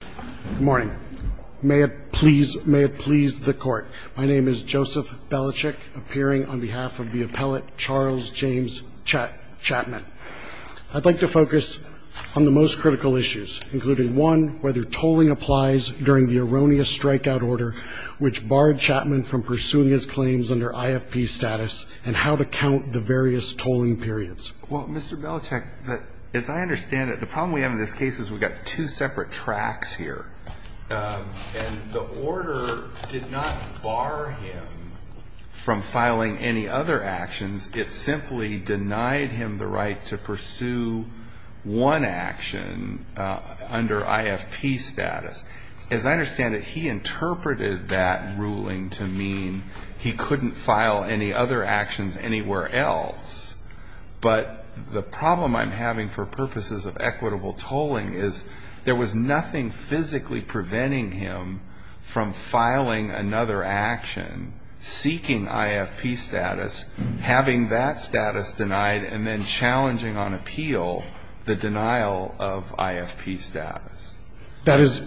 Good morning. May it please the Court, my name is Joseph Belichick, appearing on behalf of the appellate Charles James Chatman. I'd like to focus on the most critical issues, including one, whether tolling applies during the erroneous strikeout order which barred Chatman from pursuing his claims under IFP status, and how to count the various tolling periods. Well, Mr. Belichick, as I understand it, the problem we have in this case is we've got two separate tracks here. And the order did not bar him from filing any other actions. It simply denied him the right to pursue one action under IFP status. As I understand it, he interpreted that ruling to mean he couldn't file any other actions anywhere else. But the problem I'm having for purposes of equitable tolling is there was nothing physically preventing him from filing another action seeking IFP status, having that status denied, and then challenging on appeal the denial of IFP status. That is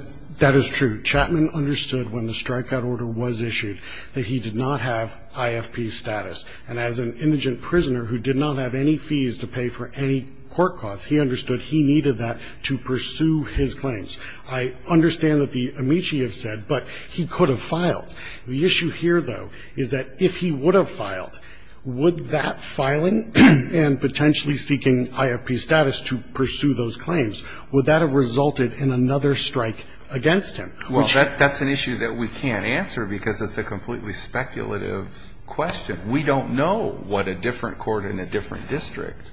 true. Chatman understood when the strikeout order was issued that he did not have IFP status. And as an indigent prisoner who did not have any fees to pay for any court costs, he understood he needed that to pursue his claims. I understand that the amici have said, but he could have filed. The issue here, though, is that if he would have filed, would that filing and potentially seeking IFP status to pursue those claims, would that have resulted in another strike against him? Well, that's an issue that we can't answer because it's a completely speculative question. We don't know what a different court in a different district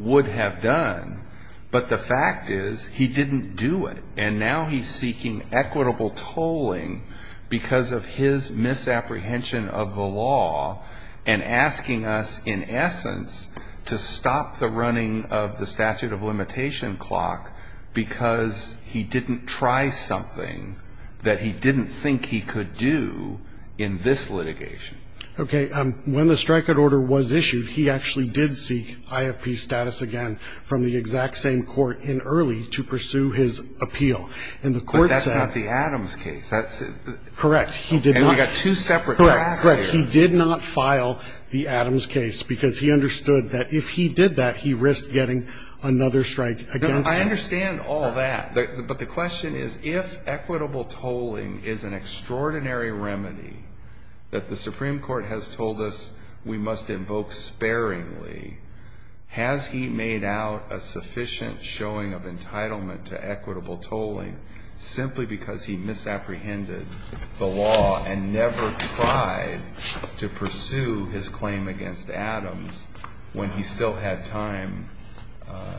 would have done. But the fact is he didn't do it. And now he's seeking equitable tolling because of his misapprehension of the law and asking us, in essence, to stop the running of the statute of limitation clock because he didn't try something that he didn't think he could do in this litigation. Okay. When the strikeout order was issued, he actually did seek IFP status again from the exact same court in Early to pursue his appeal. And the court said the Adams case. That's correct. He did not get two separate. Correct. He did not file the Adams case because he understood that if he did that, he risked getting another strike against him. I understand all that. But the question is, if equitable tolling is an extraordinary remedy that the Supreme Court has told us we must invoke sparingly, has he made out a sufficient showing of entitlement to equitable tolling simply because he misapprehended the law and never tried to pursue his claim against Adams when he still had time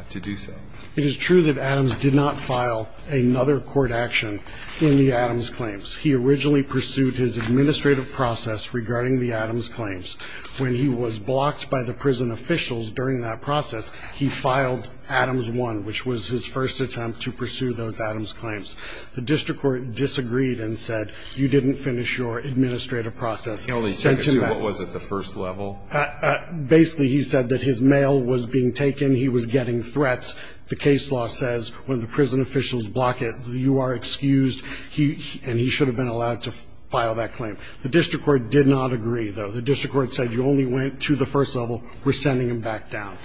to do so? It is true that Adams did not file another court action in the Adams claims. He originally pursued his administrative process regarding the Adams claims. When he was blocked by the prison officials during that process, he filed Adams 1, which was his first attempt to pursue those Adams claims. The district court disagreed and said, you didn't finish your administrative process. He only took it to what was it, the first level? Basically, he said that his mail was being taken. And he was getting threats. The case law says when the prison officials block it, you are excused, and he should have been allowed to file that claim. The district court did not agree, though. The district court said you only went to the first level. We're sending him back down.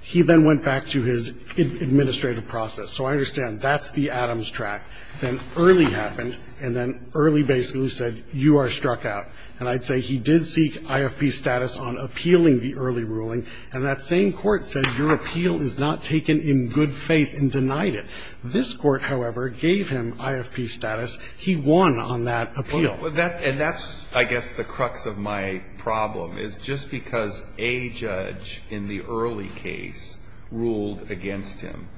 He then went back to his administrative process. So I understand that's the Adams track. Then early happened, and then early basically said you are struck out. And I'd say he did seek IFP status on appealing the early ruling, and that same court said your appeal is not taken in good faith and denied it. This Court, however, gave him IFP status. He won on that appeal. And that's, I guess, the crux of my problem, is just because a judge in the early case ruled against him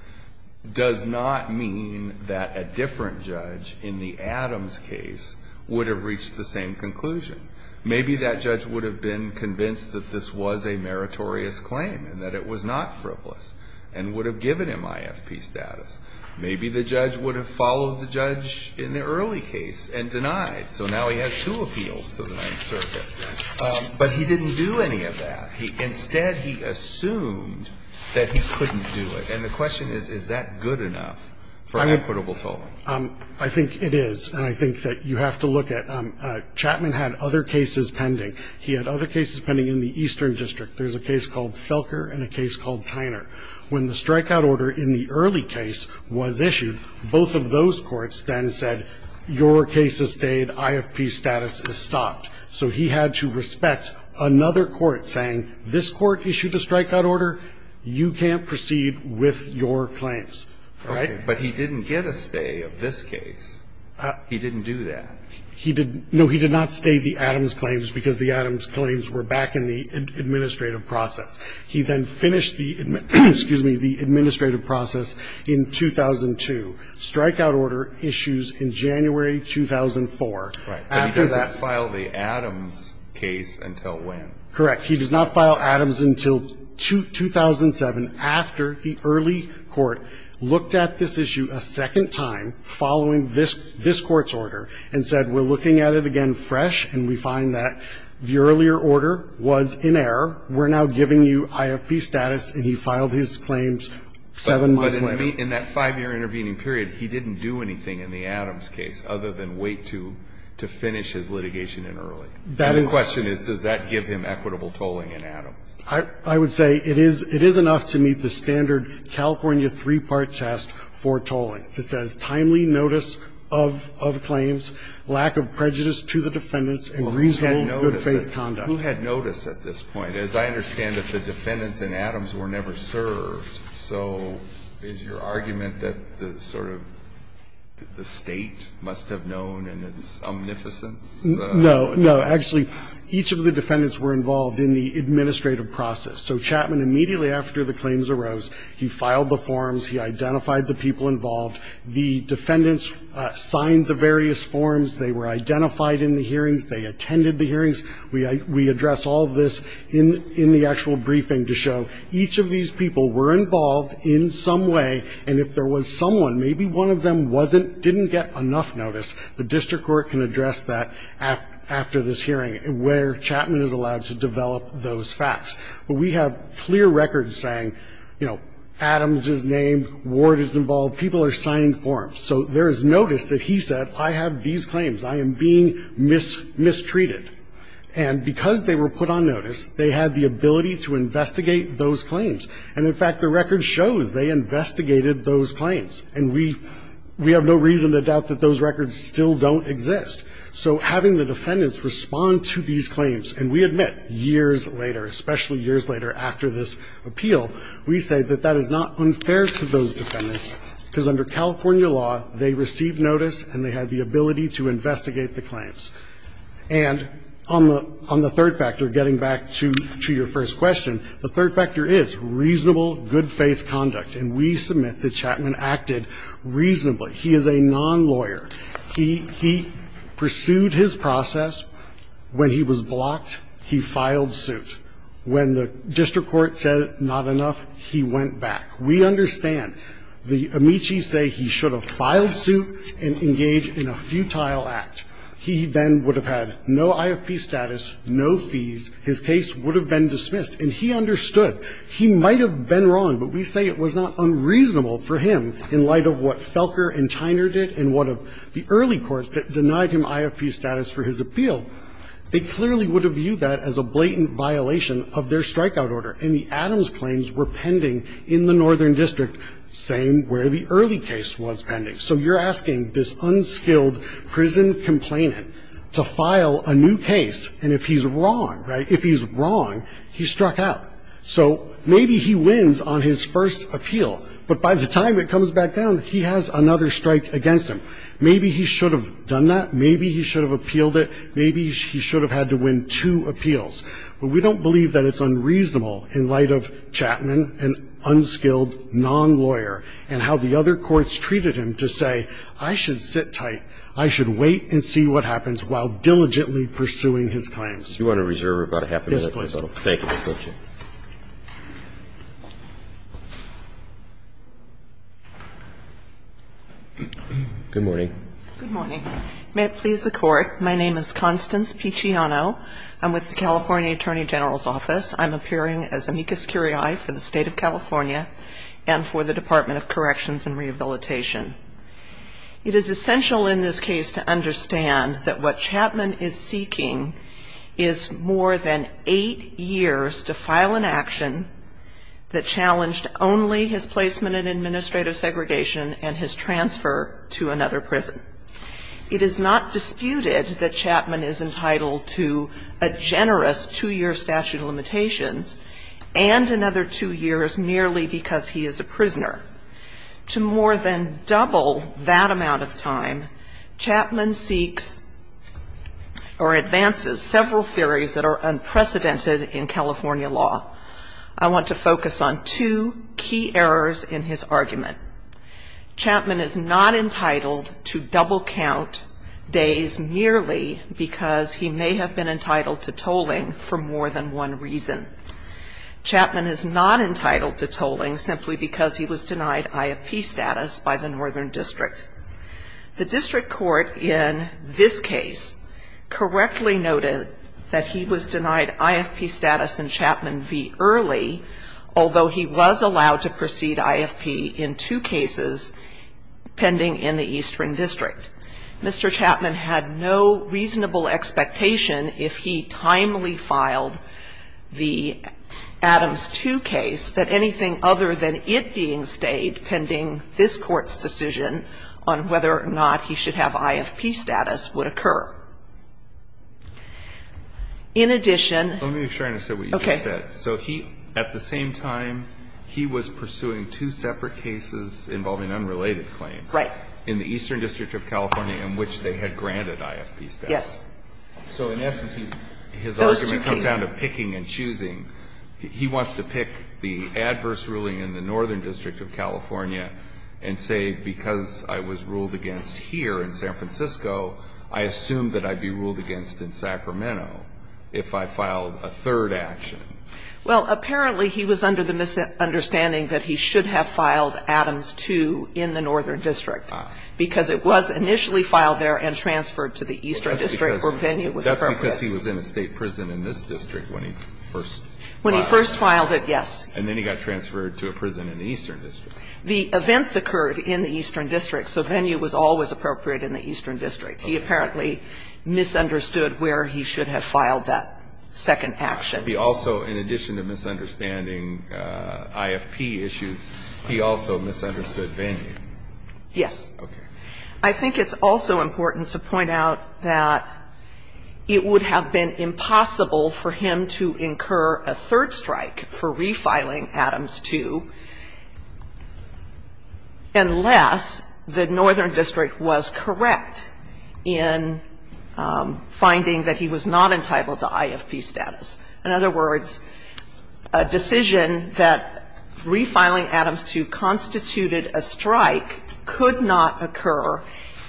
does not mean that a different judge in the Adams case would have reached the same conclusion. Maybe that judge would have been convinced that this was a meritorious claim and that it was not frivolous and would have given him IFP status. Maybe the judge would have followed the judge in the early case and denied. So now he has two appeals to the Ninth Circuit. But he didn't do any of that. Instead, he assumed that he couldn't do it. And the question is, is that good enough for equitable tolling? I think it is. And I think that you have to look at, Chapman had other cases pending. He had other cases pending in the Eastern District. There's a case called Felker and a case called Tyner. When the strikeout order in the early case was issued, both of those courts then said your case has stayed, IFP status is stopped. So he had to respect another court saying, this court issued a strikeout order, you can't proceed with your claims. All right? But he didn't get a stay of this case. He didn't do that. He didn't. No, he did not stay the Adams claims because the Adams claims were back in the administrative process. He then finished the administrative process in 2002. Strikeout order issues in January 2004. Right. But he does not file the Adams case until when? Correct. He does not file Adams until 2007 after the early court looked at this issue a second time following this court's order and said, we're looking at it again fresh and we find that the earlier order was in error. We're now giving you IFP status. And he filed his claims seven months later. But in that five-year intervening period, he didn't do anything in the Adams case other than wait to finish his litigation in early. That is. The question is, does that give him equitable tolling in Adams? I would say it is enough to meet the standard California three-part test for tolling. It says, timely notice of claims, lack of prejudice to the defendants, and reasonable good faith conduct. Who had notice at this point? As I understand it, the defendants in Adams were never served. So is your argument that the sort of the State must have known in its omnificence? No. No. Actually, each of the defendants were involved in the administrative process. So Chapman, immediately after the claims arose, he filed the forms. He identified the people involved. The defendants signed the various forms. They were identified in the hearings. They attended the hearings. We address all of this in the actual briefing to show each of these people were involved in some way. And if there was someone, maybe one of them wasn't, didn't get enough notice, the district court can address that after this hearing where Chapman is allowed to develop those facts. But we have clear records saying, you know, Adams is named, Ward is involved. People are signing forms. So there is notice that he said, I have these claims. I am being mistreated. And because they were put on notice, they had the ability to investigate those claims. And, in fact, the record shows they investigated those claims. And we have no reason to doubt that those records still don't exist. So having the defendants respond to these claims, and we admit years later, especially years later after this appeal, we say that that is not unfair to those defendants because under California law, they received notice and they had the ability to investigate the claims. And on the third factor, getting back to your first question, the third factor is reasonable, good-faith conduct. And we submit that Chapman acted reasonably. He is a non-lawyer. He pursued his process. When he was blocked, he filed suit. When the district court said not enough, he went back. We understand. The amici say he should have filed suit and engaged in a futile act. He then would have had no IFP status, no fees. His case would have been dismissed. And he understood. He might have been wrong, but we say it was not unreasonable for him in light of what Felker and Tyner did and what the early courts denied him IFP status for his appeal. They clearly would have viewed that as a blatant violation of their strikeout order. And the Adams claims were pending in the northern district, same where the early case was pending. So you're asking this unskilled prison complainant to file a new case, and if he's wrong, right? If he's wrong, he struck out. So maybe he wins on his first appeal, but by the time it comes back down, he has another strike against him. Maybe he should have done that. Maybe he should have appealed it. Maybe he should have had to win two appeals. But we don't believe that it's unreasonable in light of Chapman, an unskilled non-lawyer, and how the other courts treated him to say, I should sit tight, I should wait and see what happens, while diligently pursuing his claims. Do you want to reserve about a half a minute? Yes, please. Thank you. Good morning. Good morning. May it please the Court. My name is Constance Picciano. I'm with the California Attorney General's Office. I'm appearing as amicus curiae for the State of California and for the Department of Corrections and Rehabilitation. It is essential in this case to understand that what Chapman is seeking is more than eight years to file an action that challenged only his placement in administrative segregation and his transfer to another prison. It is not disputed that Chapman is entitled to a generous two-year statute of limitations and another two years merely because he is a prisoner. To more than double that amount of time, Chapman seeks or advances several theories that are unprecedented in California law. I want to focus on two key errors in his argument. Chapman is not entitled to double count days merely because he may have been entitled to tolling for more than one reason. Chapman is not entitled to tolling simply because he was denied IFP status by the Northern District. The district court in this case correctly noted that he was denied IFP status in Chapman v. Early, although he was allowed to proceed IFP in two cases pending in the Eastern District. Mr. Chapman had no reasonable expectation, if he timely filed the Adams II case, that anything other than it being stayed pending this Court's decision on whether or not he should have IFP status would occur. In addition to that, he at the same time, he was pursuing two separate cases involving unrelated claims. Right. In the Eastern District of California in which they had granted IFP status. Yes. Those two cases. So in essence, his argument comes down to picking and choosing. He wants to pick the adverse ruling in the Northern District of California and say, because I was ruled against here in San Francisco, I assume that I would be ruled against in Sacramento if I filed a third action. Well, apparently he was under the misunderstanding that he should have filed Adams II in the Northern District because it was initially filed there and transferred to the Eastern District where Venue was appropriate. That's because he was in a State prison in this district when he first filed it. When he first filed it, yes. And then he got transferred to a prison in the Eastern District. The events occurred in the Eastern District, so Venue was always appropriate in the Eastern District. He apparently misunderstood where he should have filed that second action. But he also, in addition to misunderstanding IFP issues, he also misunderstood Venue. Yes. Okay. I think it's also important to point out that it would have been impossible for him to incur a third strike for refiling Adams II unless the Northern District was correct in finding that he was not entitled to IFP status. In other words, a decision that refiling Adams II constituted a strike could not occur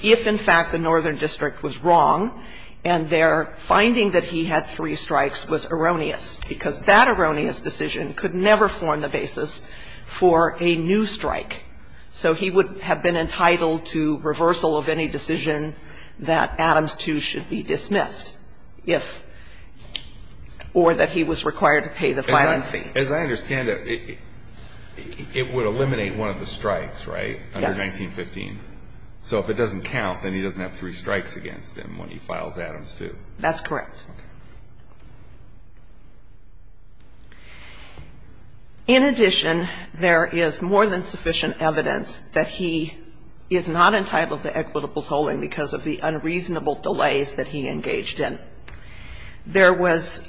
if, in fact, the Northern District was wrong and their finding that he had three strikes was erroneous. Because that erroneous decision could never form the basis for a new strike. So he would have been entitled to reversal of any decision that Adams II should be dismissed if or that he was required to pay the filing fee. As I understand it, it would eliminate one of the strikes, right? Yes. Under 1915. So if it doesn't count, then he doesn't have three strikes against him when he files Adams II. That's correct. Okay. In addition, there is more than sufficient evidence that he is not entitled to equitable delays that he engaged in. There was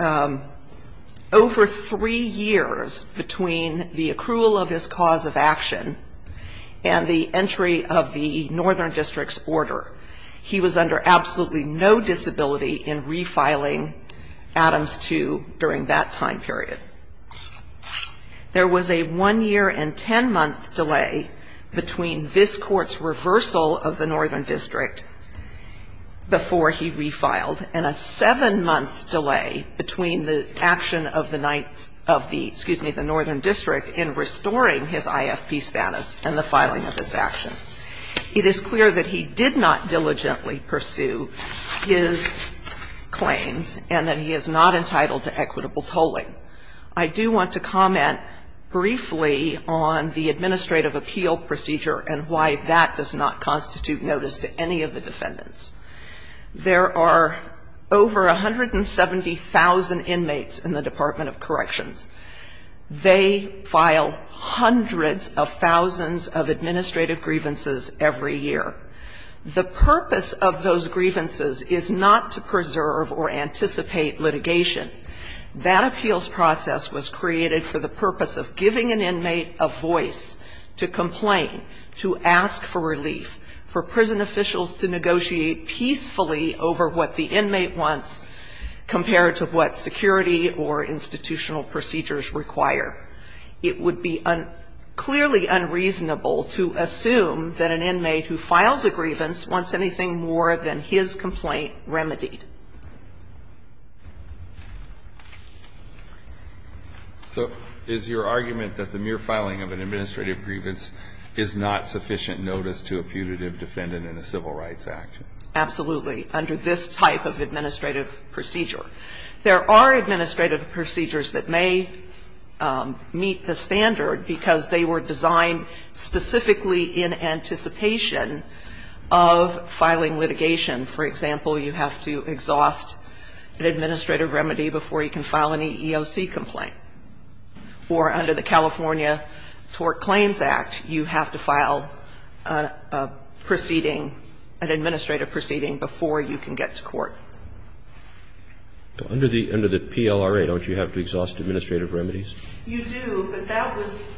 over three years between the accrual of his cause of action and the entry of the Northern District's order. He was under absolutely no disability in refiling Adams II during that time period. There was a one-year and ten-month delay between this Court's reversal of the Northern District before he refiled and a seven-month delay between the action of the Northern District in restoring his IFP status and the filing of this action. It is clear that he did not diligently pursue his claims and that he is not entitled to equitable tolling. I do want to comment briefly on the administrative appeal procedure and why that does not constitute notice to any of the defendants. There are over 170,000 inmates in the Department of Corrections. They file hundreds of thousands of administrative grievances every year. The purpose of those grievances is not to preserve or anticipate litigation. That appeals process was created for the purpose of giving an inmate a voice to complain, to ask for relief, for prison officials to negotiate peacefully over what the inmate wants compared to what security or institutional procedures require. It would be clearly unreasonable to assume that an inmate who files a grievance wants anything more than his complaint remedied. So is your argument that the mere filing of an administrative grievance is not sufficient notice to a putative defendant in a civil rights action? Absolutely, under this type of administrative procedure. There are administrative procedures that may meet the standard because they were designed specifically in anticipation of filing litigation. For example, you have to exhaust an administrative remedy before you can file an EEOC complaint, or under the California Tort Claims Act, you have to file a proceeding, an administrative proceeding before you can get to court. Under the PLRA, don't you have to exhaust administrative remedies? You do, but that was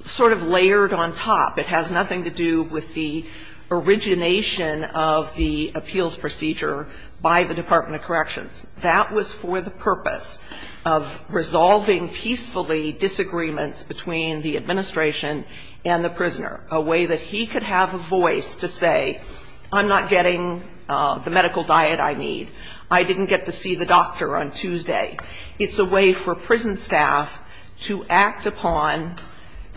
sort of layered on top. It has nothing to do with the origination of the appeals procedure by the Department of Corrections. That was for the purpose of resolving peacefully disagreements between the administration and the prisoner, a way that he could have a voice to say, I'm not getting the medical diet I need, I didn't get to see the doctor on Tuesday. It's a way for prison staff to act upon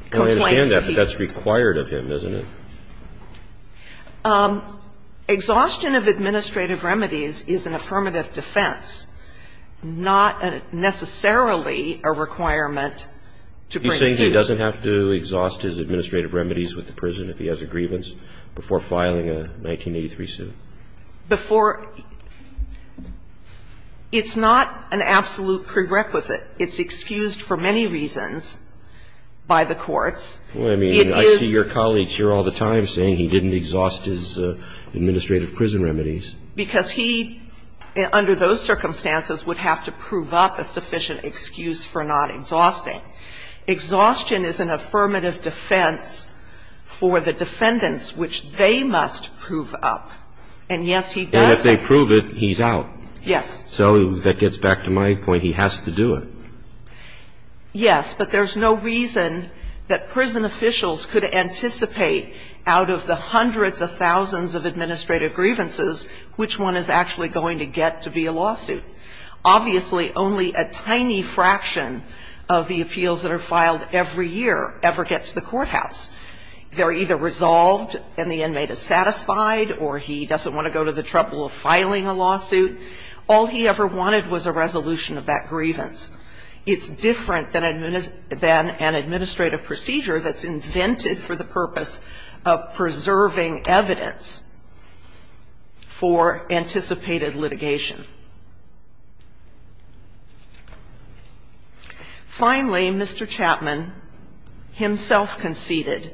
complaints. I understand that, but that's required of him, isn't it? Exhaustion of administrative remedies is an affirmative defense, not necessarily a requirement to bring suit. He's saying he doesn't have to exhaust his administrative remedies with the prison if he has a grievance before filing a 1983 suit? Before – it's not an absolute prerequisite. It's excused for many reasons by the courts. It is – Well, I mean, I see your colleagues here all the time saying he didn't exhaust his administrative prison remedies. Because he, under those circumstances, would have to prove up a sufficient excuse for not exhausting. Exhaustion is an affirmative defense for the defendants, which they must prove up. And yes, he does – And if they prove it, he's out. Yes. So that gets back to my point. He has to do it. Yes. But there's no reason that prison officials could anticipate out of the hundreds of thousands of administrative grievances which one is actually going to get to be a lawsuit. Obviously, only a tiny fraction of the appeals that are filed every year ever gets to the courthouse. They're either resolved and the inmate is satisfied or he doesn't want to go to the trouble of filing a lawsuit. All he ever wanted was a resolution of that grievance. It's different than an administrative procedure that's invented for the purpose of preserving evidence for anticipated litigation. Finally, Mr. Chapman himself conceded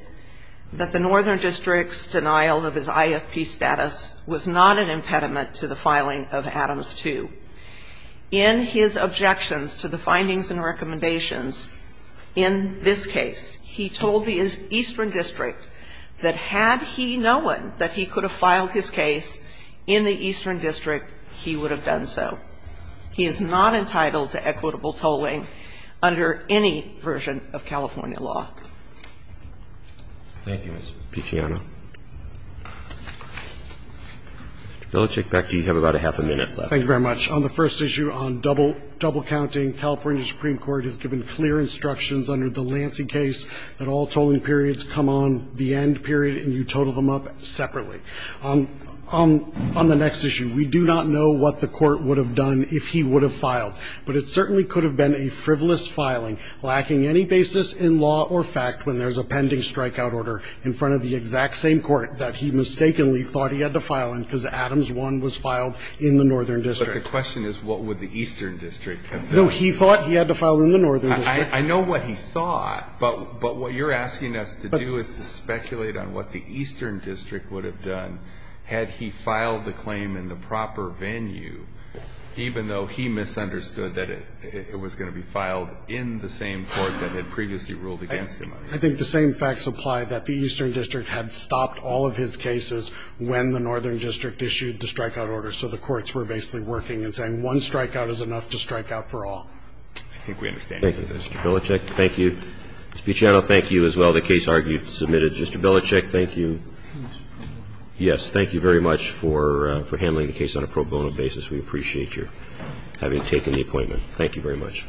that the Northern District's denial of his In his objections to the findings and recommendations in this case, he told the Eastern District that had he known that he could have filed his case in the Eastern District, he would have done so. He is not entitled to equitable tolling under any version of California law. Thank you, Ms. Picciano. Mr. Belichick, back to you. You have about a half a minute left. Thank you very much. On the first issue, on double counting, California Supreme Court has given clear instructions under the Lansing case that all tolling periods come on the end period and you total them up separately. On the next issue, we do not know what the Court would have done if he would have filed, but it certainly could have been a frivolous filing lacking any basis in law or fact when there's a pending strikeout order in front of the exact same court that he mistakenly thought he had to file in because Adams 1 was filed in the Northern District. But the question is what would the Eastern District have done? No, he thought he had to file in the Northern District. I know what he thought, but what you're asking us to do is to speculate on what the Eastern District would have done had he filed the claim in the proper venue, even though he misunderstood that it was going to be filed in the same court that had previously ruled against him. I think the same facts apply that the Eastern District had stopped all of his cases when the Northern District issued the strikeout order. So the courts were basically working and saying one strikeout is enough to strike out for all. I think we understand. Thank you, Mr. Belichick. Thank you. Mr. Picciotto, thank you as well. The case argued, submitted. Mr. Belichick, thank you. Yes, thank you very much for handling the case on a pro bono basis. We appreciate your having taken the appointment. Thank you very much.